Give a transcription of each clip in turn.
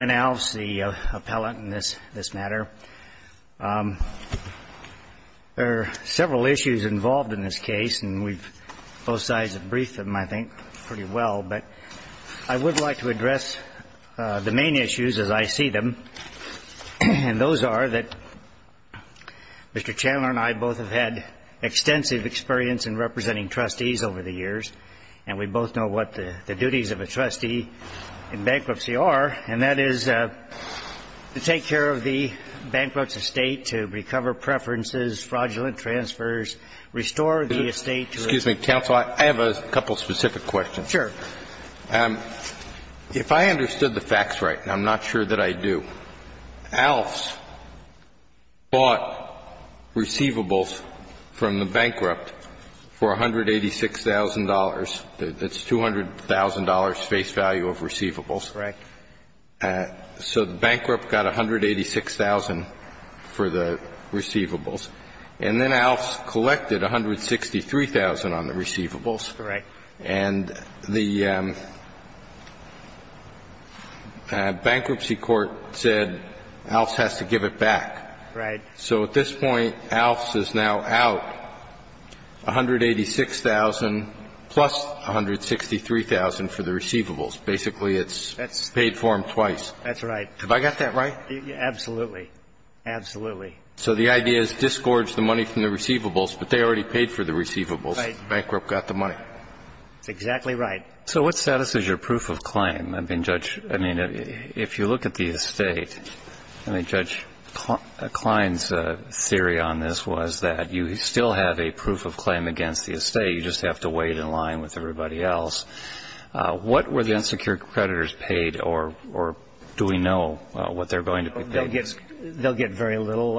the appellant in this matter. There are several issues involved in this case, and we've both sides have briefed them, I think, pretty well, but I would like to address the main issues as I see them, and those are that Mr. Chandler and I both have had extensive experience in representing trustees over the years, and we both know what the duties of a trustee in bankruptcy are, and that is to take care of the bankrupt's estate, to recover preferences, fraudulent transfers, restore the estate to a Excuse me, counsel. I have a couple of specific questions. Sure. If I understood the facts right, and I'm not sure that I do, Aalfs bought receivables from the bankrupt for $186,000. That's $200,000 face value of receivables. Correct. So the bankrupt got $186,000 for the receivables, and then Aalfs collected $163,000 on the receivables. Correct. And the bankruptcy court said Aalfs has to give it back. Right. So at this point, Aalfs is now out $186,000 plus $163,000 for the receivables. Basically, it's paid for them twice. That's right. Have I got that right? Absolutely. Absolutely. So the idea is disgorge the money from the receivables, but they already paid for the receivables. The bankrupt got the money. That's exactly right. So what status is your proof of claim? I mean, Judge, I mean, if you look at the estate, I mean, Judge, Klein's theory on this was that you still have a proof of claim against the estate. You just have to weigh it in line with everybody else. What were the insecure creditors paid, or do we know what they're going to be paid? They'll get very little.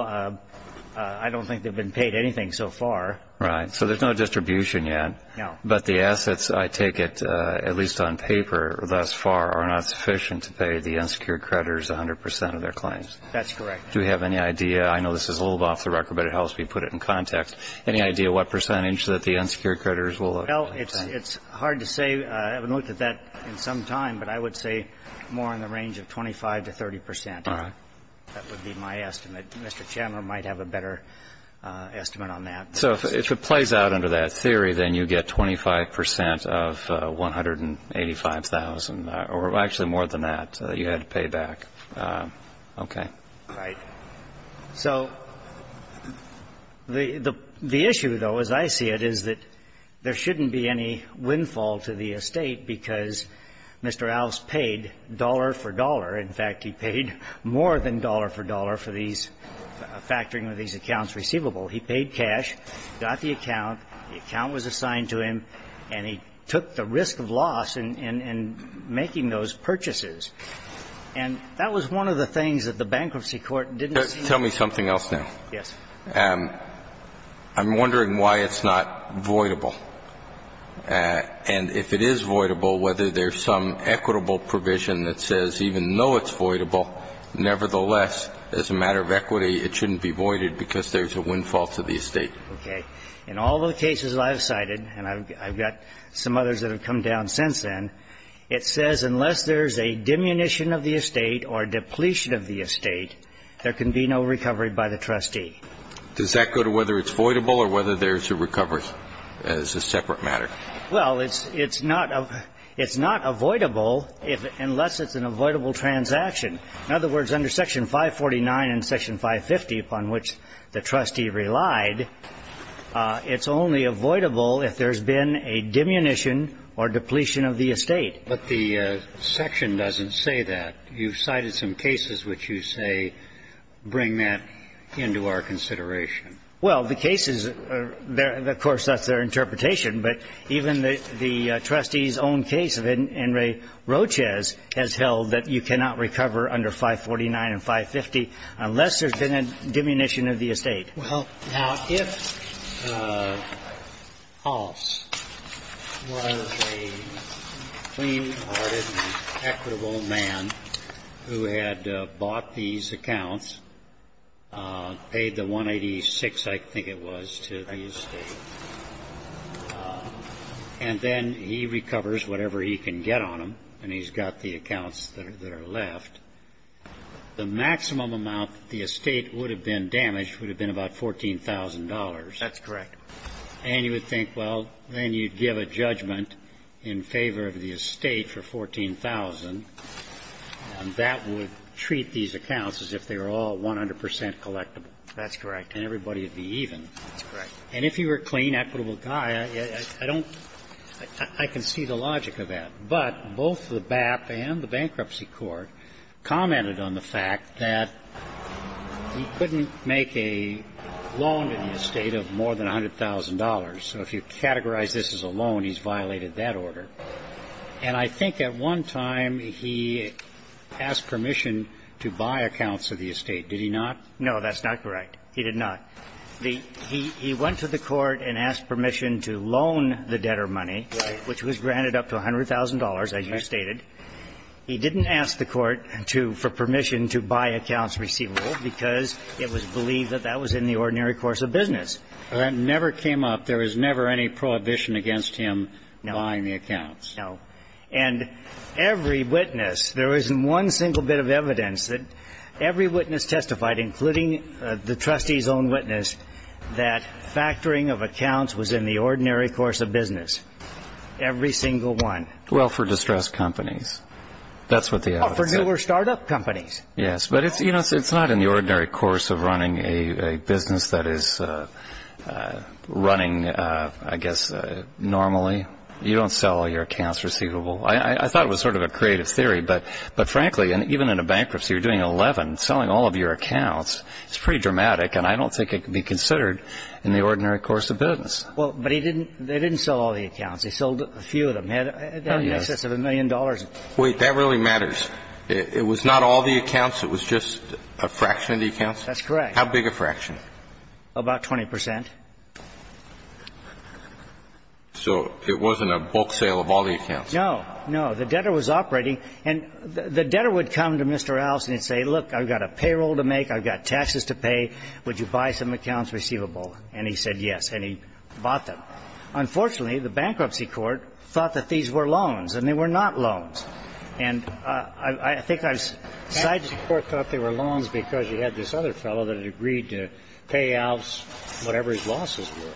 I don't think they've been paid anything so far. Right. So there's no distribution yet. No. But the assets, I take it, at least on paper thus far, are not sufficient to pay the claims. That's correct. Do we have any idea? I know this is a little off the record, but it helps me put it in context. Any idea what percentage that the insecure creditors will have? Well, it's hard to say. I haven't looked at that in some time, but I would say more in the range of 25 to 30 percent. All right. That would be my estimate. Mr. Chandler might have a better estimate on that. So if it plays out under that theory, then you get 25 percent of 185,000, or actually more than that, that you had to pay back. Okay. All right. So the issue, though, as I see it, is that there shouldn't be any windfall to the estate because Mr. Alves paid dollar for dollar. In fact, he paid more than dollar for dollar for these factoring of these accounts receivable. He paid cash, got the account, the account was assigned to him, and he took the risk of loss in making those purchases. And that was one of the things that the bankruptcy court didn't see. Tell me something else now. Yes. I'm wondering why it's not voidable. And if it is voidable, whether there's some equitable provision that says even though it's voidable, nevertheless, as a matter of equity, it shouldn't be voided because there's a windfall to the estate. Okay. In all the cases I've cited, and I've got some others that have come down since then, it says unless there's a diminution of the estate or a depletion of the estate, there can be no recovery by the trustee. Does that go to whether it's voidable or whether there's a recovery as a separate matter? Well, it's not avoidable unless it's an avoidable transaction. In other words, under Section 549 and Section 550, upon which the trustee relied, it's only avoidable if there's been a diminution or depletion of the estate. But the section doesn't say that. You've cited some cases which you say bring that into our consideration. Well, the cases, of course, that's their interpretation, but even the trustee's own case of Henry Rochez has held that you cannot recover under 549 and 550 unless there's been a diminution of the estate. Well, now, if Hoss was a clean-hearted and equitable man who had bought these accounts, paid the 186, I think it was, to the estate, and then he recovers whatever he can get on them, and he's got the accounts that are left, the maximum amount that the estate would have been damaged would have been about $14,000. That's correct. And you would think, well, then you'd give a judgment in favor of the estate for $14,000, and that would treat these accounts as if they were all 100 percent collectible. And everybody would be even. That's correct. And if he were a clean, equitable guy, I don't – I can see the logic of that. But both the BAP and the Bankruptcy Court commented on the fact that he couldn't make a loan to the estate of more than $100,000. So if you categorize this as a loan, he's violated that order. And I think at one time he asked permission to buy accounts of the estate. Did he not? No, that's not correct. He did not. He went to the court and asked permission to loan the debtor money, which was granted up to $100,000, as you stated. He didn't ask the court for permission to buy accounts receivable because it was believed that that was in the ordinary course of business. That never came up. There was never any prohibition against him buying the accounts. No. And every witness – there isn't one single bit of evidence that every witness testified, including the trustee's own witness, that factoring of accounts was in the ordinary course of business. Every single one. Well, for distressed companies. That's what the evidence said. For newer start-up companies. Yes. But it's not in the ordinary course of running a business that is running, I guess, normally. You don't sell your accounts receivable. I thought it was sort of a creative theory. But frankly, even in a bankruptcy, you're doing 11, selling all of your accounts. It's pretty dramatic. And I don't think it can be considered in the ordinary course of business. But he didn't sell all the accounts. He sold a few of them. That would be in excess of a million dollars. Wait. That really matters. It was not all the accounts. It was just a fraction of the accounts? That's correct. How big a fraction? About 20 percent. So it wasn't a bulk sale of all the accounts? No. No. The debtor was operating. And the debtor would come to Mr. Alves and say, look, I've got a payroll to make. I've got taxes to pay. Would you buy some accounts receivable? And he said yes. And he bought them. Unfortunately, the bankruptcy court thought that these were loans. And they were not loans. And I think I've cited the court thought they were loans because you had this other fellow that had agreed to pay Alves whatever his losses were.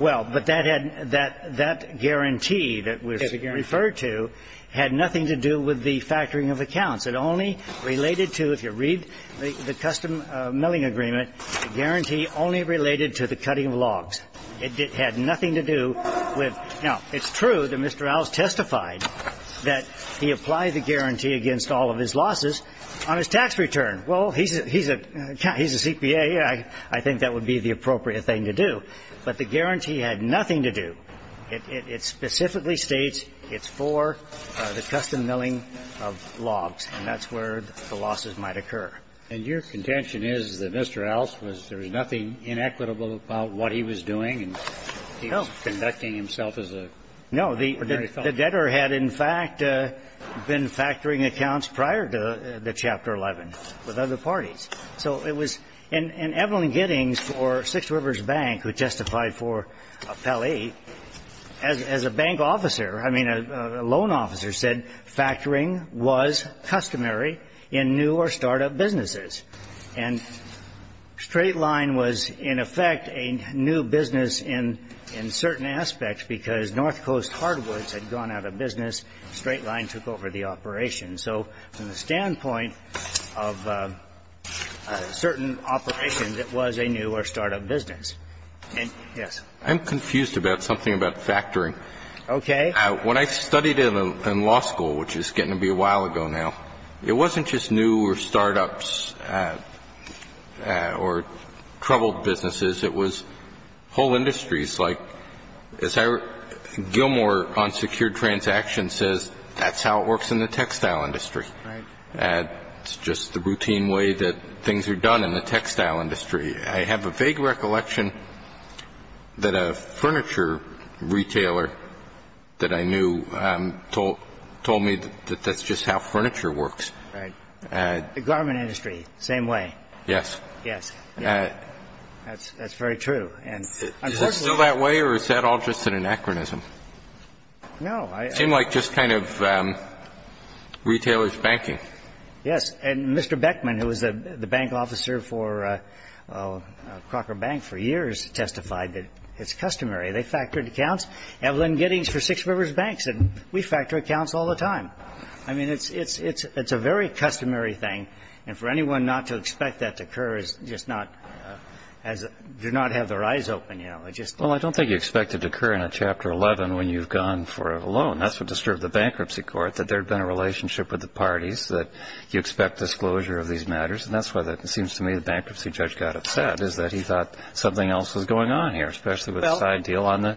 Well, but that guarantee that was referred to had nothing to do with the factoring of accounts. It only related to, if you read the custom milling agreement, the guarantee only related to the cutting of logs. It had nothing to do with. Now, it's true that Mr. Alves testified that he applied the guarantee against all of his losses on his tax return. Well, he's a CPA. I think that would be the appropriate thing to do. But the guarantee had nothing to do. It specifically states it's for the custom milling of logs. And that's where the losses might occur. And your contention is that Mr. Alves was, there was nothing inequitable about what he was doing. No. He was conducting himself as a. No, the debtor had, in fact, been factoring accounts prior to the Chapter 11 with other parties. So it was. And Evelyn Giddings for Six Rivers Bank, who testified for Pelley, as a bank officer, I mean, a loan officer, said factoring was customary in new or start-up businesses. And Straight Line was, in effect, a new business in certain aspects because North Coast Hardwoods had gone out of business. Straight Line took over the operation. So from the standpoint of certain operations, it was a new or start-up business. And, yes. I'm confused about something about factoring. Okay. When I studied in law school, which is getting to be a while ago now, it wasn't just new or start-ups or troubled businesses. It was whole industries, like as Gilmore on secured transactions says, that's how it works in the textile industry. Right. It's just the routine way that things are done in the textile industry. I have a vague recollection that a furniture retailer that I knew told me that that's just how furniture works. Right. The garment industry, same way. Yes. Yes. Yes. That's very true. Is it still that way or is that all just an anachronism? No. It seemed like just kind of retailer's banking. Yes. And Mr. Beckman, who was the bank officer for Crocker Bank for years, testified that it's customary. They factored accounts. Evelyn Giddings for Six Rivers Banks said, we factor accounts all the time. I mean, it's a very customary thing. And for anyone not to expect that to occur is just not as do not have their eyes open. Well, I don't think you expect it to occur in a Chapter 11 when you've gone for a loan. That's what disturbed the bankruptcy court, that there'd been a relationship with the parties, that you expect disclosure of these matters. And that's why it seems to me the bankruptcy judge got upset, is that he thought something else was going on here, especially with a side deal on the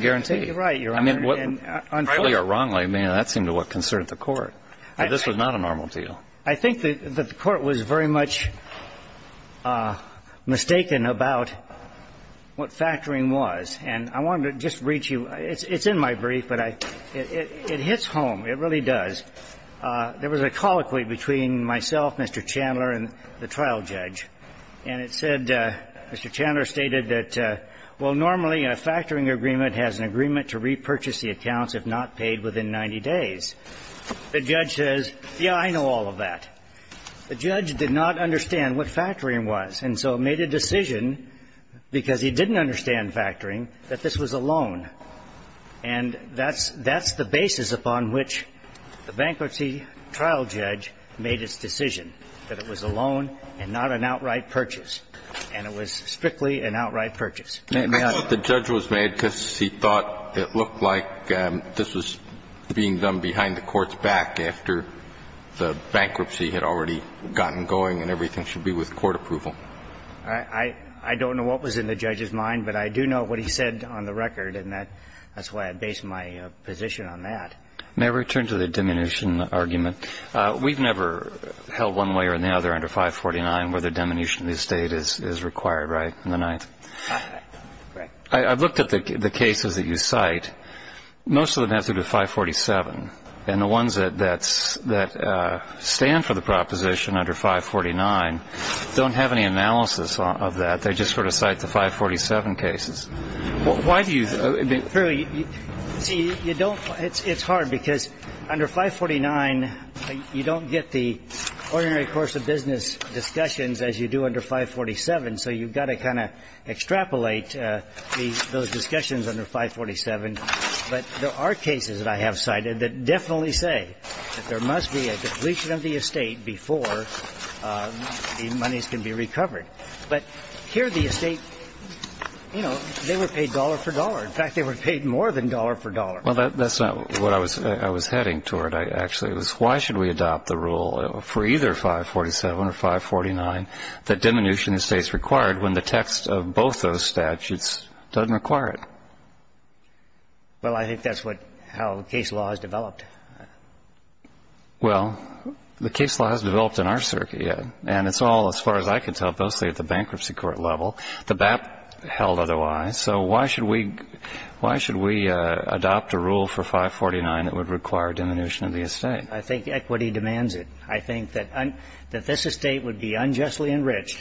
guarantee. I think you're right, Your Honor. Rightly or wrongly, that seemed to what concerned the court. This was not a normal deal. I think that the court was very much mistaken about what factoring was. And I wanted to just reach you. It's in my brief, but it hits home. It really does. There was a colloquy between myself, Mr. Chandler, and the trial judge. And it said, Mr. Chandler stated that, well, normally a factoring agreement has an agreement to repurchase the accounts if not paid within 90 days. The judge says, yeah, I know all of that. The judge did not understand what factoring was, and so made a decision, because he didn't understand factoring, that this was a loan. And that's the basis upon which the bankruptcy trial judge made its decision, that it was a loan and not an outright purchase. And it was strictly an outright purchase. I thought the judge was mad because he thought it looked like this was being done behind the court's back after the bankruptcy had already gotten going and everything should be with court approval. I don't know what was in the judge's mind, but I do know what he said on the record, and that's why I base my position on that. May I return to the diminution argument? We've never held one way or another under 549 whether diminution of the estate is required, right, in the Ninth? Correct. I've looked at the cases that you cite. Most of them have to do with 547, and the ones that stand for the proposition under 549 don't have any analysis of that. They just sort of cite the 547 cases. Why do you think? It's hard, because under 549, you don't get the ordinary course of business discussions as you do under 547, so you've got to kind of extrapolate those discussions under 547. But there are cases that I have cited that definitely say that there must be a depletion of the estate before the monies can be recovered. But here the estate, you know, they were paid dollar for dollar. In fact, they were paid more than dollar for dollar. Well, that's not what I was heading toward, actually. It was why should we adopt the rule for either 547 or 549 that diminution of the estate is required when the text of both those statutes doesn't require it? Well, I think that's how the case law has developed. Well, the case law has developed in our circuit, and it's all, as far as I can tell, mostly at the bankruptcy court level. The BAP held otherwise, so why should we adopt a rule for 549 that would require diminution of the estate? I think equity demands it. I think that this estate would be unjustly enriched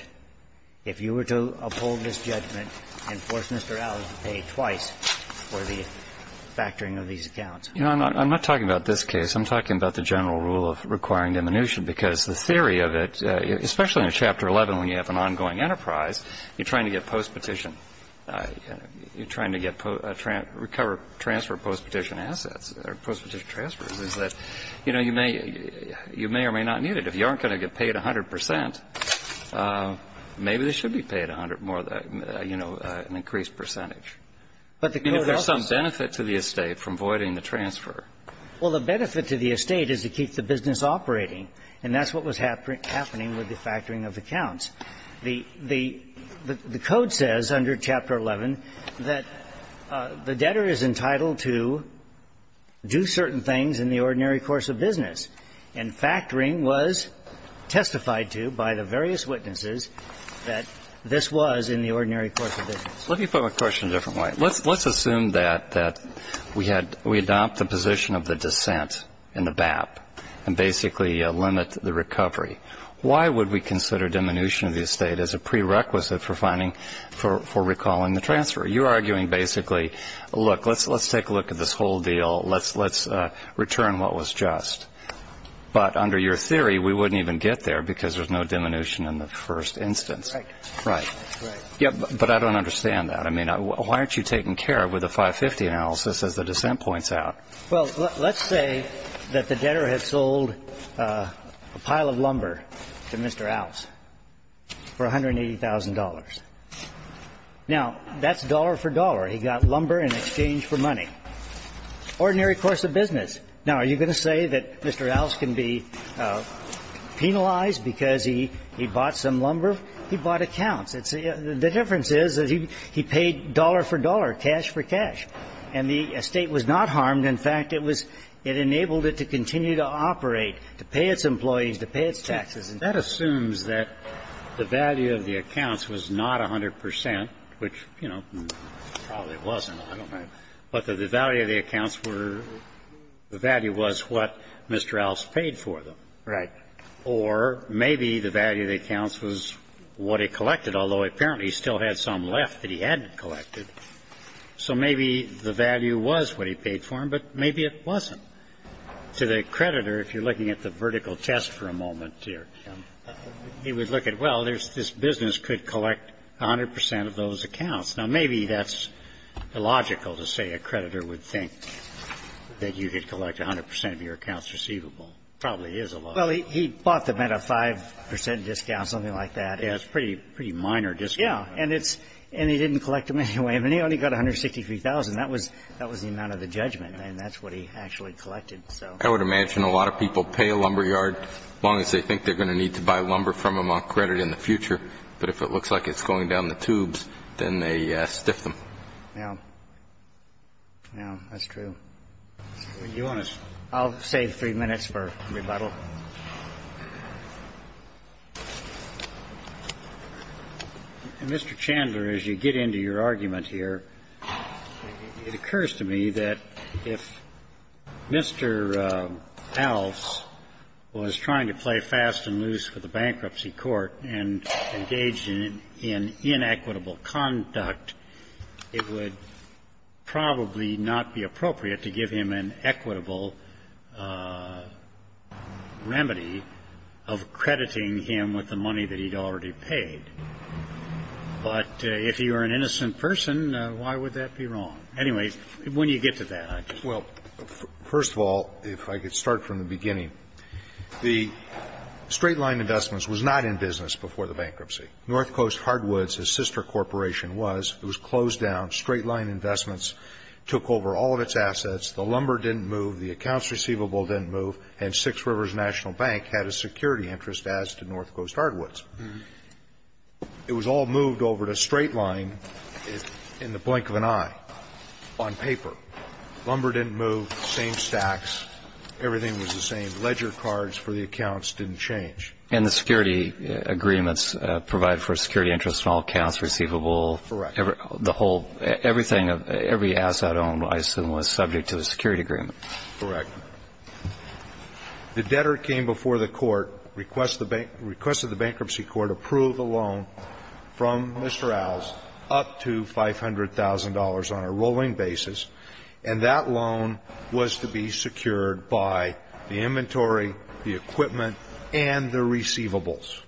if you were to uphold this judgment and force Mr. Allen to pay twice for the factoring of these accounts. You know, I'm not talking about this case. I'm talking about the general rule of requiring diminution, because the theory of it, especially in Chapter 11 when you have an ongoing enterprise, you're trying to get postpetition. You're trying to get a transfer of postpetition assets or postpetition transfers, is that, you know, you may or may not need it. If you aren't going to get paid 100 percent, maybe they should be paid 100 more, you know, an increased percentage. I mean, if there's some benefit to the estate from voiding the transfer. Well, the benefit to the estate is to keep the business operating, and that's what was happening with the factoring of accounts. The code says under Chapter 11 that the debtor is entitled to do certain things in the ordinary course of business, and factoring was testified to by the various witnesses that this was in the ordinary course of business. Let me put my question a different way. Let's assume that we adopt the position of the dissent in the BAP and basically limit the recovery. Why would we consider diminution of the estate as a prerequisite for recalling the transfer? You're arguing basically, look, let's take a look at this whole deal. Let's return what was just. But under your theory, we wouldn't even get there because there's no diminution in the first instance. Right. Right. Right. Yeah, but I don't understand that. I mean, why aren't you taking care of with the 550 analysis as the dissent points out? Well, let's say that the debtor had sold a pile of lumber to Mr. Allis for $180,000. Now, that's dollar for dollar. He got lumber in exchange for money. Ordinary course of business. Now, are you going to say that Mr. Allis can be penalized because he bought some lumber? He bought accounts. The difference is that he paid dollar for dollar, cash for cash. And the estate was not harmed. In fact, it enabled it to continue to operate, to pay its employees, to pay its taxes. That assumes that the value of the accounts was not 100 percent, which, you know, probably it wasn't. I don't know. But the value of the accounts were the value was what Mr. Allis paid for them. Right. Or maybe the value of the accounts was what he collected, although apparently he still had some left that he hadn't collected. So maybe the value was what he paid for them, but maybe it wasn't. To the creditor, if you're looking at the vertical test for a moment here, he would look at, well, this business could collect 100 percent of those accounts. Now, maybe that's illogical to say a creditor would think that you could collect 100 percent of your accounts receivable. Probably is illogical. Well, he bought them at a 5 percent discount, something like that. Yeah, it's a pretty minor discount. Yeah. And he didn't collect them anyway. I mean, he only got $163,000. That was the amount of the judgment. And that's what he actually collected, so. I would imagine a lot of people pay a lumber yard as long as they think they're going to need to buy lumber from them on credit in the future. But if it looks like it's going down the tubes, then they stiff them. Yeah. Yeah, that's true. Do you want to? I'll save three minutes for rebuttal. And, Mr. Chandler, as you get into your argument here, it occurs to me that if Mr. Alce was trying to play fast and loose with the bankruptcy court and engaged in inequitable conduct, it would probably not be appropriate to give him an equitable, you know, remedy of crediting him with the money that he'd already paid. But if he were an innocent person, why would that be wrong? Anyway, when you get to that, I just. Well, first of all, if I could start from the beginning. The Straight Line Investments was not in business before the bankruptcy. North Coast Hardwoods, his sister corporation, was. It was closed down. Straight Line Investments took over all of its assets. The lumber didn't move. The accounts receivable didn't move. And Six Rivers National Bank had a security interest as to North Coast Hardwoods. It was all moved over to Straight Line in the blink of an eye on paper. Lumber didn't move. Same stacks. Everything was the same. Ledger cards for the accounts didn't change. And the security agreements provide for security interest on all accounts receivable. Correct. The whole, everything, every asset owned, I assume, was subject to a security agreement. Correct. The debtor came before the court, requested the bankruptcy court approve a loan from Mr. Owls up to $500,000 on a rolling basis. And that loan was to be secured by the inventory, the equipment, and the receivables.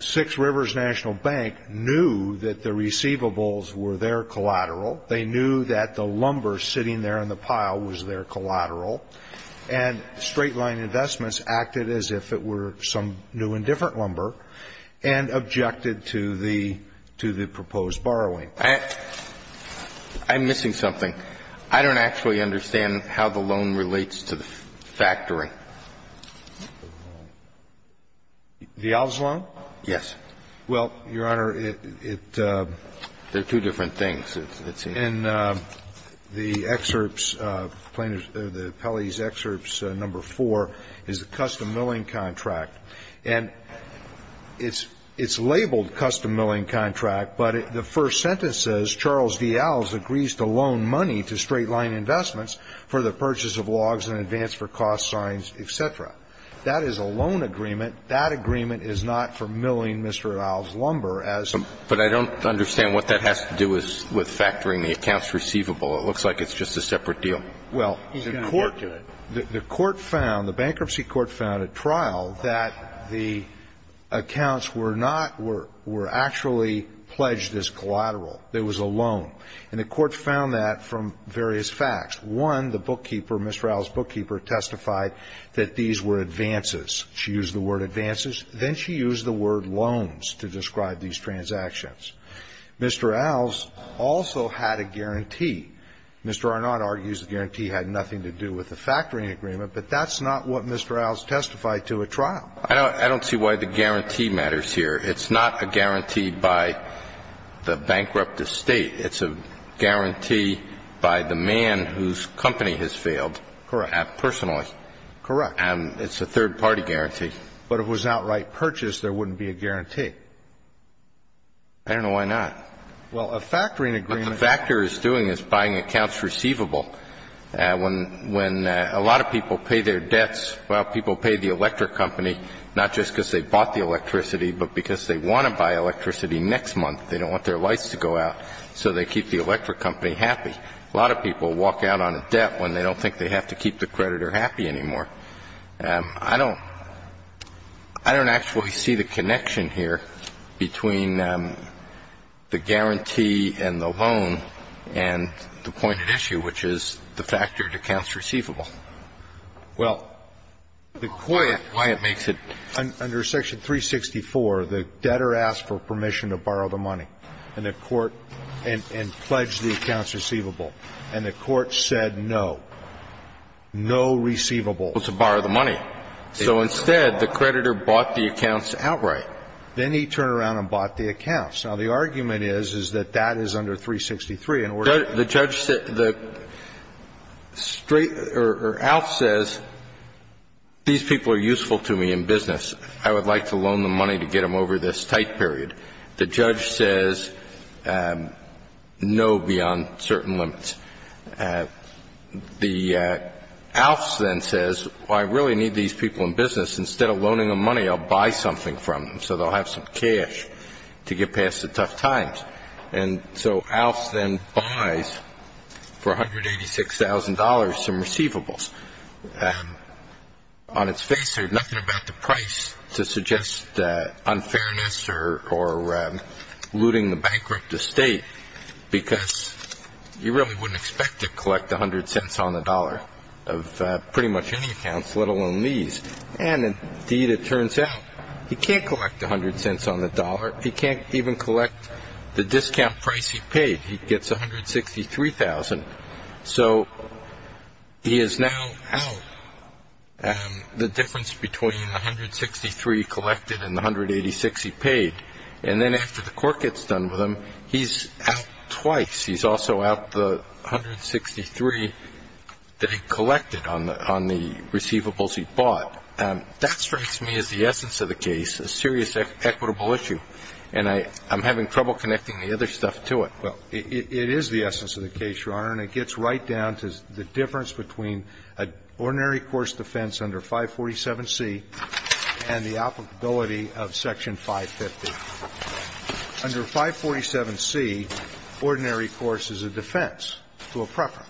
Six Rivers National Bank knew that the receivables were their collateral. They knew that the lumber sitting there in the pile was their collateral. And Straight Line Investments acted as if it were some new and different lumber and objected to the proposed borrowing. I'm missing something. I don't actually understand how the loan relates to the factory. The Owls loan? Yes. Well, Your Honor, it... They're two different things, it seems. In the excerpts, the appellee's excerpts number four is the custom milling contract. And it's labeled custom milling contract, but the first sentence says, Charles D. Owls agrees to loan money to Straight Line Investments for the purchase of logs in advance for cost signs, etc. That is a loan agreement. That agreement is not for milling Mr. Owls' lumber as... But I don't understand what that has to do with factoring the accounts receivable. It looks like it's just a separate deal. Well, the court found, the bankruptcy court found at trial that the accounts were not, were actually pledged as collateral. It was a loan. And the court found that from various facts. One, the bookkeeper, Mr. Owls' bookkeeper, testified that these were advances. She used the word advances. Then she used the word loans to describe these transactions. Mr. Owls also had a guarantee. Mr. Arnot argues the guarantee had nothing to do with the factoring agreement, but that's not what Mr. Owls testified to at trial. I don't see why the guarantee matters here. It's not a guarantee by the bankrupt estate. It's a guarantee by the man whose company has failed. Correct. Personally. Correct. It's a third-party guarantee. But if it was an outright purchase, there wouldn't be a guarantee. I don't know why not. Well, a factoring agreement... What the factor is doing is buying accounts receivable. When a lot of people pay their debts, well, people pay the electric company, not just because they bought the electricity, but because they want to buy electricity next month. They don't want their lights to go out, so they keep the electric company happy. A lot of people walk out on a debt when they don't think they have to keep the creditor happy anymore. I don't actually see the connection here between the guarantee and the loan and the pointed issue, which is the factored accounts receivable. Well, the court... Why it makes it... Under Section 364, the debtor asked for permission to borrow the money, and the court pledged the accounts receivable. And the court said no. No receivable. To borrow the money. So instead, the creditor bought the accounts outright. Then he turned around and bought the accounts. Now, the argument is, is that that is under 363 in order to... The judge said, the straight, or Alf says, these people are useful to me in business. I would like to loan them money to get them over this tight period. The judge says, no beyond certain limits. The Alf then says, I really need these people in business. Instead of loaning them money, I'll buy something from them. So they'll have some cash to get past the tough times. And so Alf then buys, for $186,000, some receivables. On its face, there's nothing about the price to suggest unfairness or looting the bankrupt estate, because you really wouldn't expect to collect 100 cents on the dollar of pretty much any accounts, let alone these. And indeed, it turns out, he can't collect 100 cents on the dollar. He can't even collect the discount price he paid. He gets 163,000. So he is now out. The difference between the 163 he collected and the 186 he paid. And then after the court gets done with him, he's out twice. He's also out the 163 that he collected on the receivables he bought. That strikes me as the essence of the case, a serious equitable issue. And I'm having trouble connecting the other stuff to it. Well, it is the essence of the case, Your Honor, and it gets right down to the difference between an ordinary course defense under 547C and the applicability of Section 550. Under 547C, ordinary course is a defense to a preference.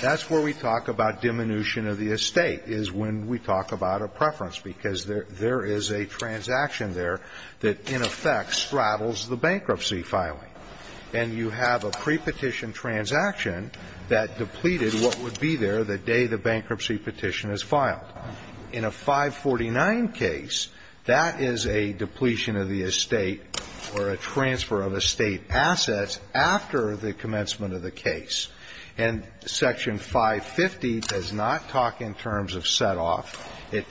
That's where we talk about diminution of the estate, is when we talk about a preference, because there is a transaction there that, in effect, straddles the bankruptcy filing. And you have a pre-petition transaction that depleted what would be there the day the bankruptcy petition is filed. In a 549 case, that is a depletion of the estate or a transfer of estate assets after the commencement of the case. And Section 550 does not talk in terms of set-off. It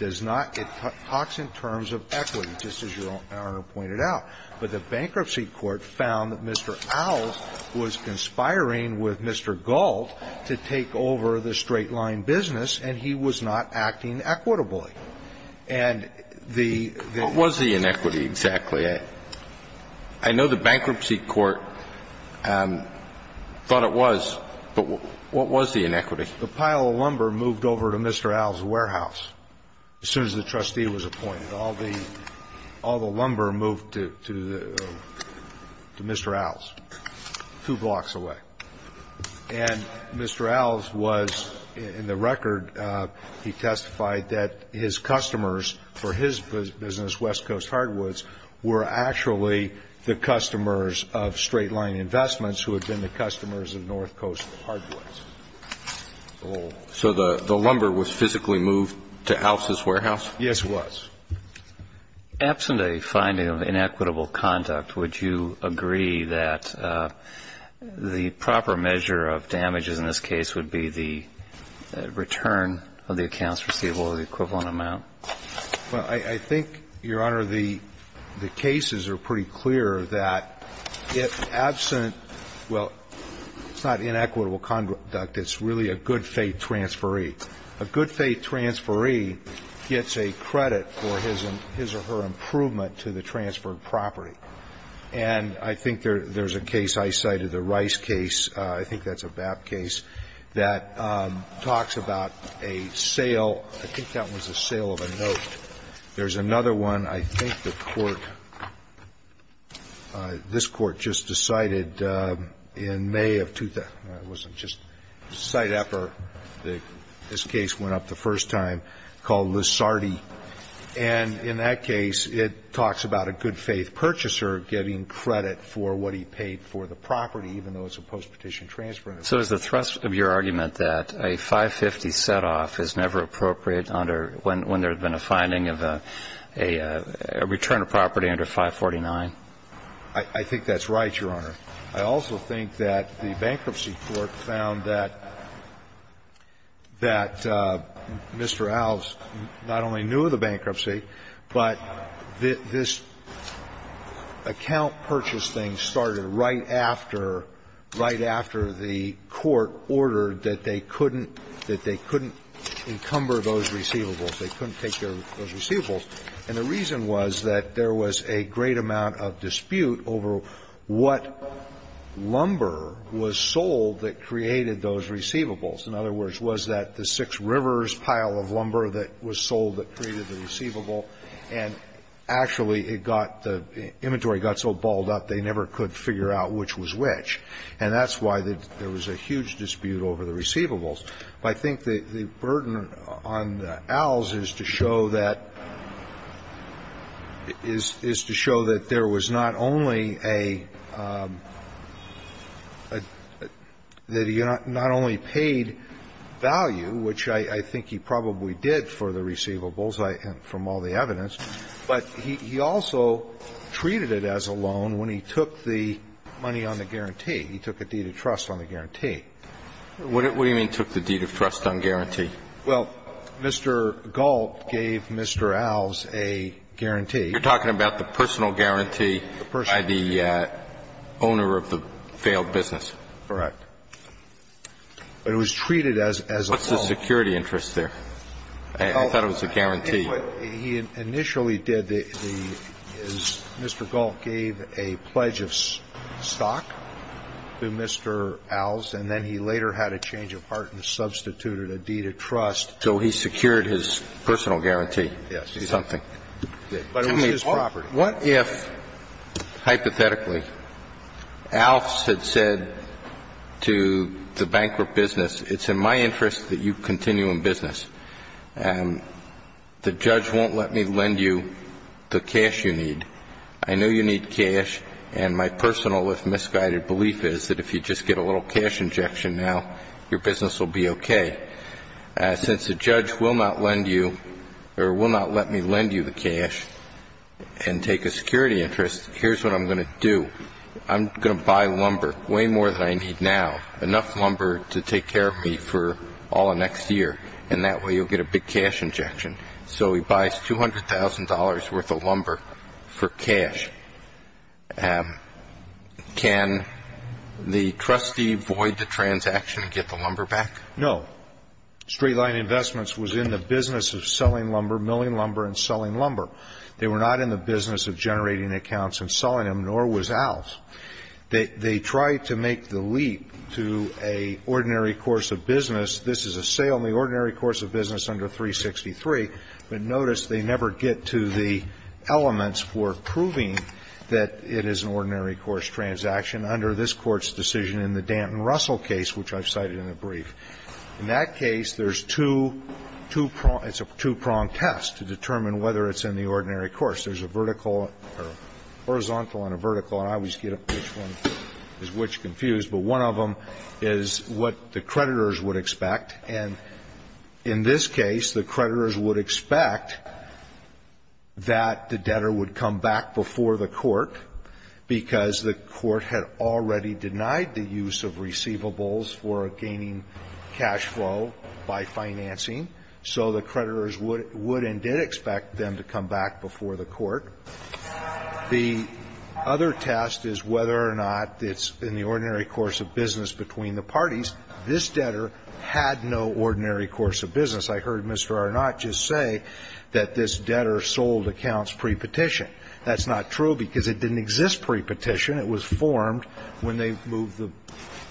talks in terms of equity, just as Your Honor pointed out. But the bankruptcy court found that Mr. Owls was conspiring with Mr. Gault to take over the straight-line business, and he was not acting equitably. And the... What was the inequity exactly? I know the bankruptcy court thought it was, but what was the inequity? The pile of lumber moved over to Mr. Owls' warehouse as soon as the trustee was appointed. All the lumber moved to Mr. Owls, two blocks away. And Mr. Owls was, in the record, he testified that his customers, for his business, West Coast Hardwoods, were actually the customers of Straight Line Investments, who had been the customers of North Coast Hardwoods. So the lumber was physically moved to Owls' warehouse? Yes, it was. Absent a finding of inequitable conduct, would you agree that the proper measure of damages in this case would be the return of the accounts receivable or the equivalent amount? Well, I think, Your Honor, the cases are pretty clear that, if absent... Well, it's not inequitable conduct. It's really a good-faith transferee. A good-faith transferee gets a credit for his or her improvement to the transferred property. And I think there's a case I cited, the Rice case. I think that's a BAP case that talks about a sale. I think that was a sale of a note. There's another one. I think the Court, this Court, just decided in May of... It wasn't just a site effort. This case went up the first time, called Lissardi. And in that case, it talks about a good-faith purchaser getting credit for what he paid for the property, even though it's a post-petition transfer. So is the thrust of your argument that a 550 set-off is never appropriate when there's been a finding of a return of property under 549? I think that's right, Your Honor. I also think that the Bankruptcy Court found that Mr. Alves not only knew the bankruptcy, but this account purchase thing started right after, right after the Court ordered that they couldn't encumber those receivables, they couldn't take those receivables. And the reason was that there was a great amount of dispute over what lumber was sold that created those receivables. In other words, was that the Six Rivers pile of lumber that was sold that created the receivable? And actually, it got, the inventory got so balled up, they never could figure out which was which. And that's why there was a huge dispute over the receivables. But I think the burden on Alves is to show that, is to show that there was not only a, that he not only paid value, which I think he probably did for the receivables from all the evidence, but he also treated it as a loan when he took the money on the guarantee, he took a deed of trust on the guarantee. What do you mean took the deed of trust on guarantee? Well, Mr. Galt gave Mr. Alves a guarantee. You're talking about the personal guarantee by the owner of the failed business. Correct. But it was treated as a loan. What's the security interest there? I thought it was a guarantee. He initially did the, Mr. Galt gave a pledge of stock to Mr. Alves, and then he later had a change of heart and substituted a deed of trust. So he secured his personal guarantee. Yes. Something. But it was his property. What if, hypothetically, Alves had said to the bankrupt business, it's in my interest that you continue in business. The judge won't let me lend you the cash you need. I know you need cash, and my personal, if misguided, belief is that if you just get a little cash injection now, your business will be okay. Since the judge will not let me lend you the cash and take a security interest, here's what I'm going to do. I'm going to buy lumber, way more than I need now, enough lumber to take care of me for all of next year, and that way you'll get a big cash injection. So he buys $200,000 worth of lumber for cash. Can the trustee void the transaction and get the lumber back? No. Straight Line Investments was in the business of selling lumber, milling lumber, and selling lumber. They were not in the business of generating accounts and selling them, nor was Alves. They tried to make the leap to an ordinary course of business. This is a sale in the ordinary course of business under 363, but notice they never get to the elements for proving that it is an ordinary course transaction under this Court's decision in the Danton-Russell case, which I've cited in the brief. In that case, there's two pronged tests to determine whether it's in the ordinary course. There's a vertical or horizontal and a vertical, and I always get which one is which confused, but one of them is what the creditors would expect, and in this case, the creditors would expect that the debtor would come back before the Court because the Court had already denied the use of receivables for gaining cash flow by financing, so the creditors would and did expect them to come back before the Court. The other test is whether or not it's in the ordinary course of business between the parties. This debtor had no ordinary course of business. I heard Mr. Arnot just say that this debtor sold accounts pre-petition. That's not true because it didn't exist pre-petition. It was formed when they moved the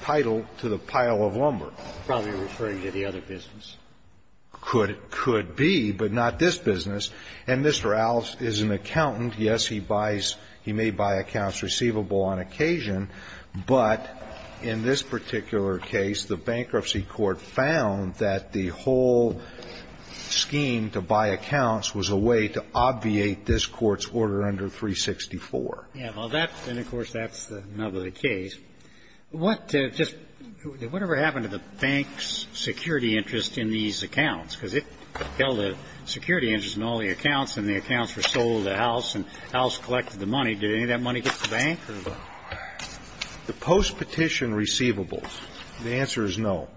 title to the pile of lumber. Probably referring to the other business. Could be, but not this business, and Mr. Alves is an accountant. Yes, he buys, he may buy accounts receivable on occasion, but in this particular case, the bankruptcy court found that the whole scheme to buy accounts was a way to obviate this Court's order under 364. Yeah, well, that's, and of course, that's the nub of the case. What just, whatever happened to the bank's security interest in these accounts? Because it held a security interest in all the accounts, and the accounts were sold to House, and House collected the money. Did any of that money get to the bank? The post-petition receivables, the answer is no.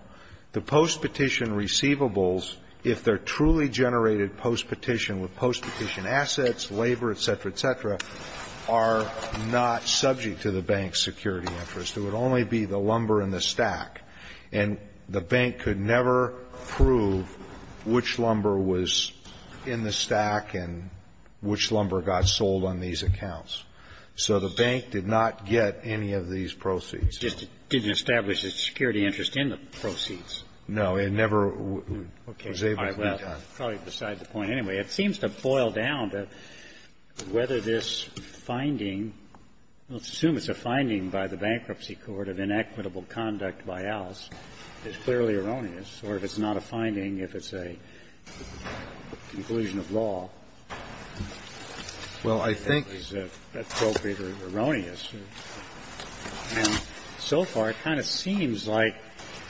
The post-petition receivables, if they're truly generated post-petition with post-petition assets, labor, et cetera, et cetera, are not subject to the bank's security interest. It would only be the lumber in the stack, and the bank could never prove which lumber was in the stack and which lumber got sold on these accounts. So the bank did not get any of these proceeds. It just didn't establish its security interest in the proceeds. No, it never was able to be done. Okay. All right. Well, probably beside the point anyway. It seems to boil down to whether this finding, let's assume it's a finding by the bankruptcy court of inequitable conduct by Alves, is clearly erroneous, or if it's not a finding, if it's a conclusion of law. Well, I think. Is it appropriate or erroneous? And so far, it kind of seems like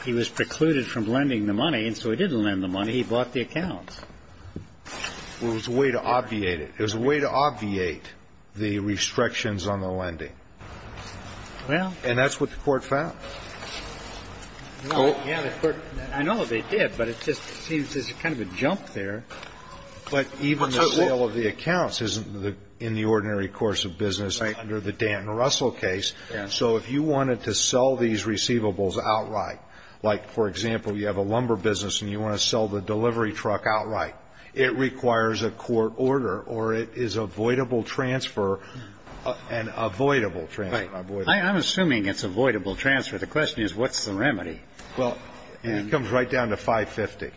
he was precluded from lending the money, and so he did lend the money. He bought the accounts. Well, it was a way to obviate it. It was a way to obviate the restrictions on the lending. Well. And that's what the Court found. Yeah, the Court. I know they did, but it just seems there's kind of a jump there. But even the sale of the accounts isn't in the ordinary course of business. Right. Under the Dan Russell case. Yeah. So if you wanted to sell these receivables outright, like, for example, you have a lumber business and you want to sell the delivery truck outright, it requires a court order, or it is avoidable transfer, an avoidable transfer. Right. I'm assuming it's avoidable transfer. The question is, what's the remedy? Well, it comes right down to 550.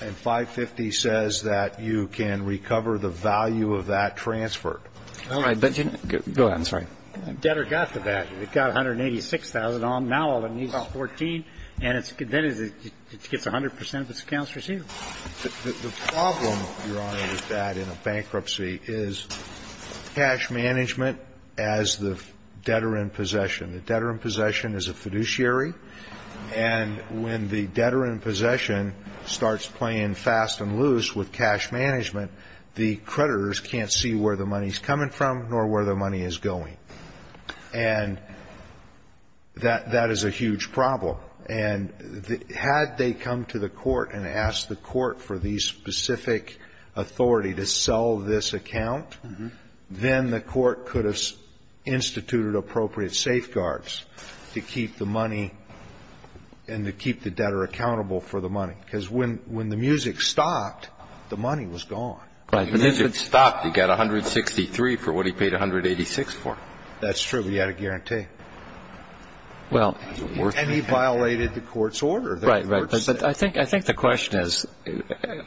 And 550 says that you can recover the value of that transfer. All right. Go ahead. I'm sorry. Debtor got the value. It got 186,000. Now all it needs is 14, and then it gets 100 percent of its accounts received. The problem, Your Honor, with that in a bankruptcy is cash management as the debtor in possession. The debtor in possession is a fiduciary. And when the debtor in possession starts playing fast and loose with cash management, the creditors can't see where the money is coming from nor where the money is going. And that is a huge problem. And had they come to the court and asked the court for the specific authority to have safeguards to keep the money and to keep the debtor accountable for the money. Because when the music stopped, the money was gone. Right. The music stopped. He got 163 for what he paid 186 for. That's true. He had a guarantee. Well. And he violated the court's order. Right, right. But I think the question is,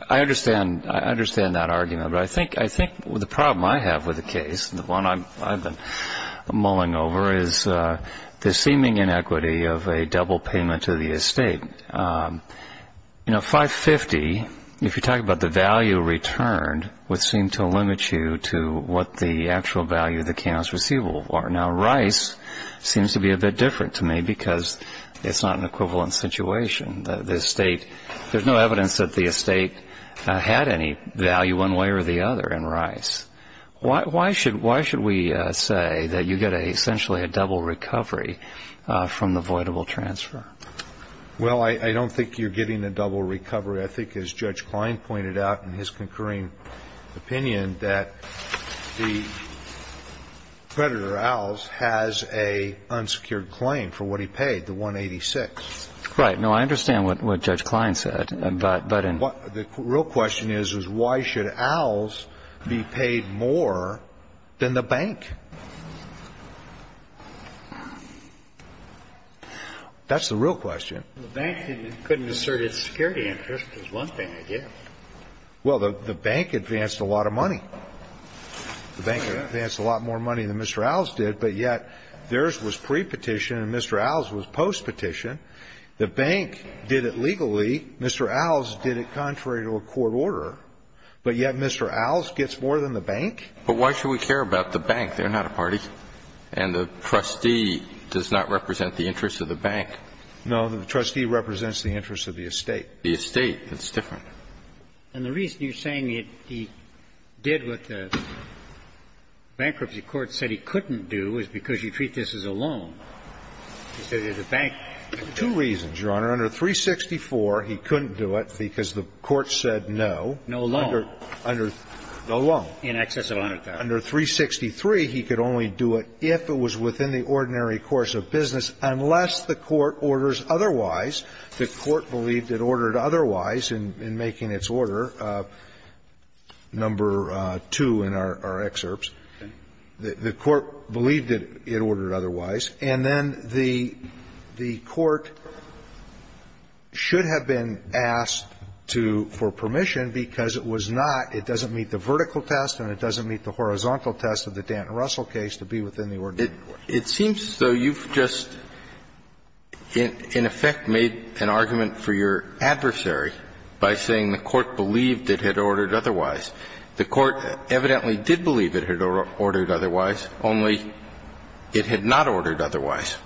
I understand that argument. But I think the problem I have with the case, the one I've been mulling over, is the seeming inequity of a double payment to the estate. You know, 550, if you're talking about the value returned, would seem to limit you to what the actual value of the accounts receivable are. Now, Rice seems to be a bit different to me because it's not an equivalent situation. The estate, there's no evidence that the estate had any value one way or the other in Rice. Why should we say that you get essentially a double recovery from the voidable transfer? Well, I don't think you're getting a double recovery. I think, as Judge Klein pointed out in his concurring opinion, that the creditor, Owls, has an unsecured claim for what he paid, the 186. Right. No, I understand what Judge Klein said. The real question is, is why should Owls be paid more than the bank? That's the real question. The bank couldn't assert its security interest is one thing, I guess. Well, the bank advanced a lot of money. The bank advanced a lot more money than Mr. Owls did, but yet, theirs was prepetition and Mr. Owls' was postpetition. The bank did it legally. Mr. Owls did it contrary to a court order, but yet Mr. Owls gets more than the bank? But why should we care about the bank? They're not a party. And the trustee does not represent the interest of the bank. No, the trustee represents the interest of the estate. The estate, it's different. And the reason you're saying he did what the bankruptcy court said he couldn't do is because you treat this as a loan instead of the bank. Two reasons, Your Honor. Under 364, he couldn't do it because the court said no. No loan. No loan. In excess of $100,000. Under 363, he could only do it if it was within the ordinary course of business unless the court orders otherwise. The court believed it ordered otherwise in making its order, number 2 in our excerpts. The court believed it ordered otherwise. And then the court should have been asked for permission because it was not, it doesn't meet the vertical test and it doesn't meet the horizontal test of the Dant and Russell case to be within the ordinary course. It seems, though, you've just in effect made an argument for your adversary by saying the court believed it had ordered otherwise. The court evidently did believe it had ordered otherwise, only it had not ordered otherwise.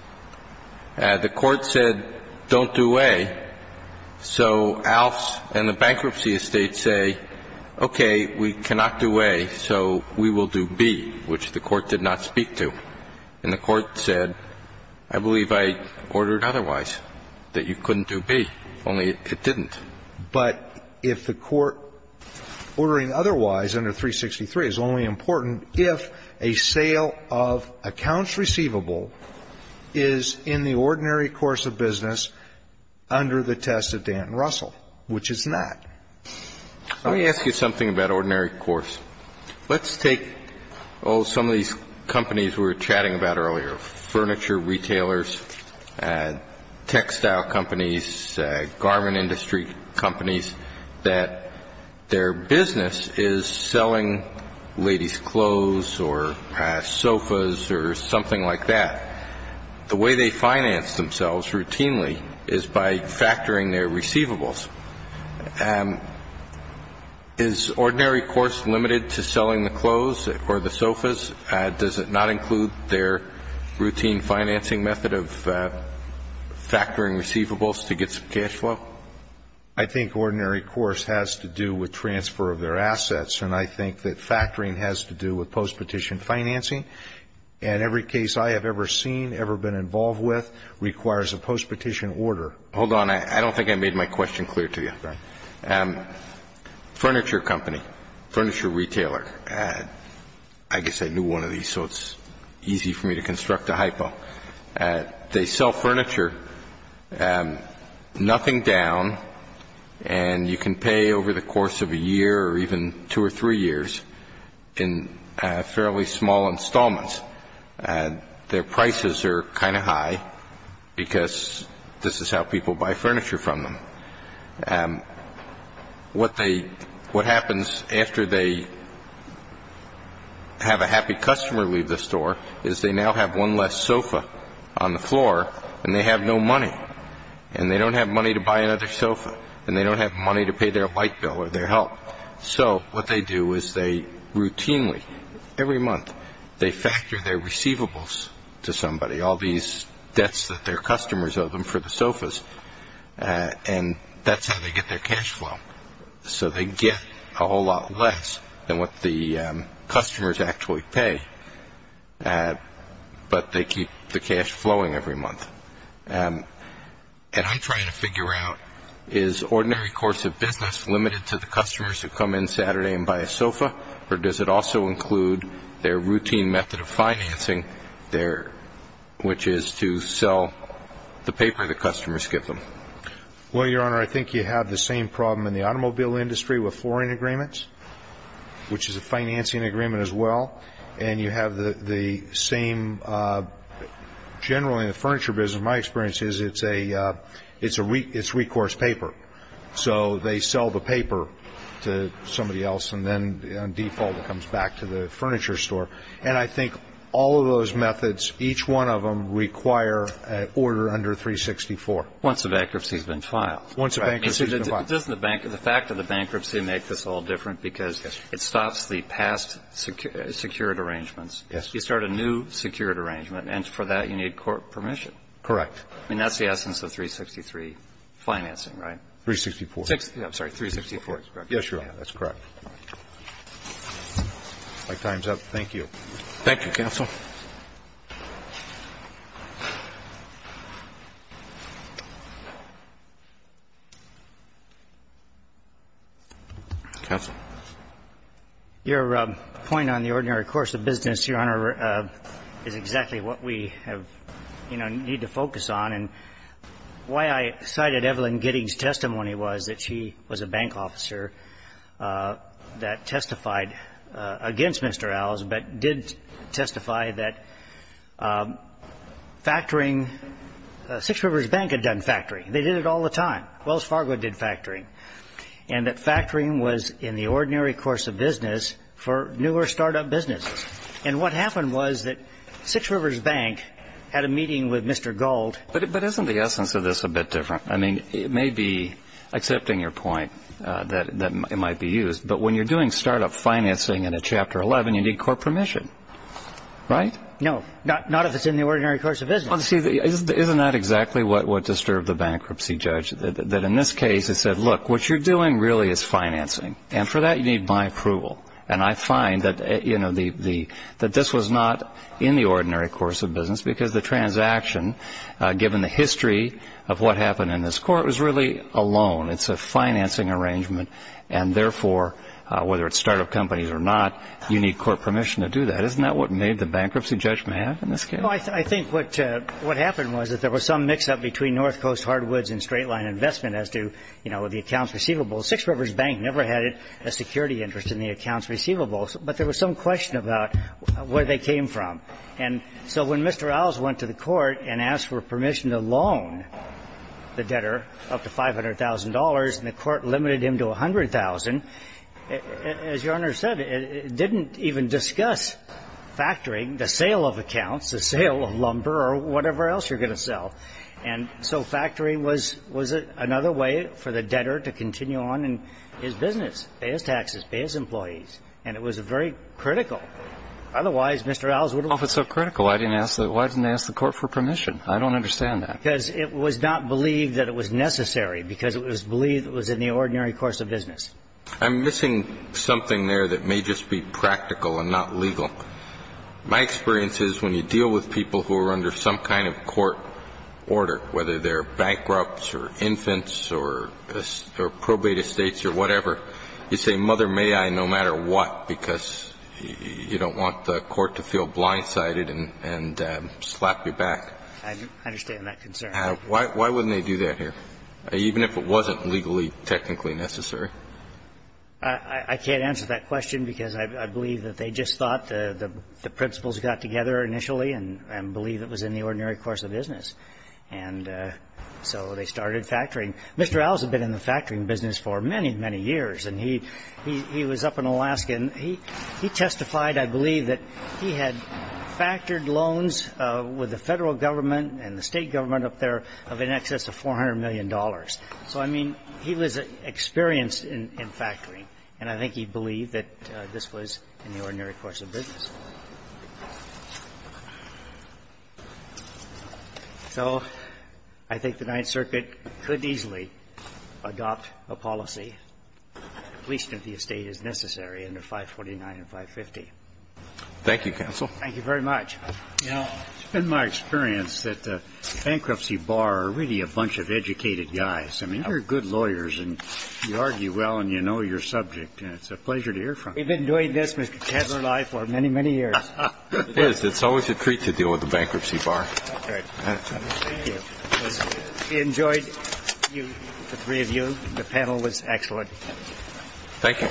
The court said don't do A, so Alfs and the bankruptcy estate say, okay, we cannot do A, so we will do B, which the court did not speak to. And the court said I believe I ordered otherwise, that you couldn't do B, only it didn't. But if the court ordering otherwise under 363 is only important if a sale of accounts receivable is in the ordinary course of business under the test of Dant and Russell, which it's not. Let me ask you something about ordinary course. Let's take, oh, some of these companies we were chatting about earlier, furniture, retailers, textile companies, garment industry companies, that their business is selling ladies' clothes or sofas or something like that. The way they finance themselves routinely is by factoring their receivables. Is ordinary course limited to selling the clothes or the sofas? Does it not include their routine financing method of factoring receivables to get some cash flow? I think ordinary course has to do with transfer of their assets, and I think that factoring has to do with post-petition financing. And every case I have ever seen, ever been involved with, requires a post-petition order. Hold on. I don't think I made my question clear to you. Furniture company, furniture retailer. I guess I knew one of these, so it's easy for me to construct a hypo. They sell furniture, nothing down, and you can pay over the course of a year or even two or three years in fairly small installments. Their prices are kind of high because this is how people buy furniture from them. What happens after they have a happy customer leave the store is they now have one less sofa on the floor, and they have no money. And they don't have money to buy another sofa, and they don't have money to pay their light bill or their help. So what they do is they routinely, every month, they factor their receivables to That's how they get their cash flow. So they get a whole lot less than what the customers actually pay, but they keep the cash flowing every month. And I'm trying to figure out, is ordinary course of business limited to the customers who come in Saturday and buy a sofa, or does it also include their routine method of financing, which is to sell the paper the customers give them? Well, Your Honor, I think you have the same problem in the automobile industry with flooring agreements, which is a financing agreement as well. And you have the same, generally in the furniture business, my experience is it's recourse paper. So they sell the paper to somebody else, and then on default it comes back to the furniture store. And I think all of those methods, each one of them require an order under 364. Once the bankruptcy has been filed. Once the bankruptcy has been filed. Doesn't the fact of the bankruptcy make this all different because it stops the past secured arrangements? Yes. You start a new secured arrangement, and for that you need court permission. Correct. I mean, that's the essence of 363 financing, right? 364. I'm sorry, 364 is correct. Yes, Your Honor, that's correct. My time's up. Thank you. Thank you, counsel. Counsel. Your point on the ordinary course of business, Your Honor, is exactly what we have, you know, need to focus on. And why I cited Evelyn Gidding's testimony was that she was a bank officer that testified against Mr. Owls, but did testify that factoring Six Rivers Bank had done fine. They did factoring. They did it all the time. Wells Fargo did factoring. And that factoring was in the ordinary course of business for newer startup businesses. And what happened was that Six Rivers Bank had a meeting with Mr. Gold. But isn't the essence of this a bit different? I mean, it may be accepting your point that it might be used, but when you're doing startup financing in a Chapter 11, you need court permission, right? No. Not if it's in the ordinary course of business. Well, see, isn't that exactly what disturbed the bankruptcy judge? That in this case, it said, look, what you're doing really is financing. And for that, you need my approval. And I find that, you know, that this was not in the ordinary course of business because the transaction, given the history of what happened in this court, was really a loan. It's a financing arrangement. And therefore, whether it's startup companies or not, you need court permission to do that. Isn't that what made the bankruptcy judgment happen in this case? Well, I think what happened was that there was some mix-up between North Coast Hardwoods and Straight Line Investment as to, you know, the accounts receivable. Six Rivers Bank never had a security interest in the accounts receivables. But there was some question about where they came from. And so when Mr. Owls went to the court and asked for permission to loan the debtor up to $500,000, and the court limited him to $100,000, as Your Honor said, it didn't even discuss factoring the sale of accounts, the sale of lumber or whatever else you're going to sell. And so factoring was another way for the debtor to continue on in his business, pay his taxes, pay his employees. And it was very critical. Otherwise, Mr. Owls would have... Well, if it's so critical, why didn't they ask the court for permission? I don't understand that. Because it was not believed that it was necessary because it was believed it was in the ordinary course of business. I'm missing something there that may just be practical and not legal. My experience is when you deal with people who are under some kind of court order, whether they're bankrupts or infants or probate estates or whatever, you say, Mother, may I, no matter what, because you don't want the court to feel blindsided and slap you back. I understand that concern. Why wouldn't they do that here, even if it wasn't legally, technically necessary? I can't answer that question because I believe that they just thought the principles got together initially and believed it was in the ordinary course of business. And so they started factoring. Mr. Owls had been in the factoring business for many, many years. And he was up in Alaska. And he testified, I believe, that he had factored loans with the federal government and the state government up there of in excess of $400 million. So, I mean, he was experienced in factoring. And I think he believed that this was in the ordinary course of business. So I think the Ninth Circuit could easily adopt a policy, at least if the estate is necessary, under 549 and 550. Thank you, counsel. Thank you very much. It's been my experience that the bankruptcy bar are really a bunch of educated guys. I mean, you're good lawyers. And you argue well. And you know your subject. And it's a pleasure to hear from you. We've been doing this, Mr. Ketterle, for many, many years. It is. It's always a treat to deal with the bankruptcy bar. Okay. Thank you. We enjoyed the three of you. The panel was excellent. Thank you. Thank you. Thank you. Thank you.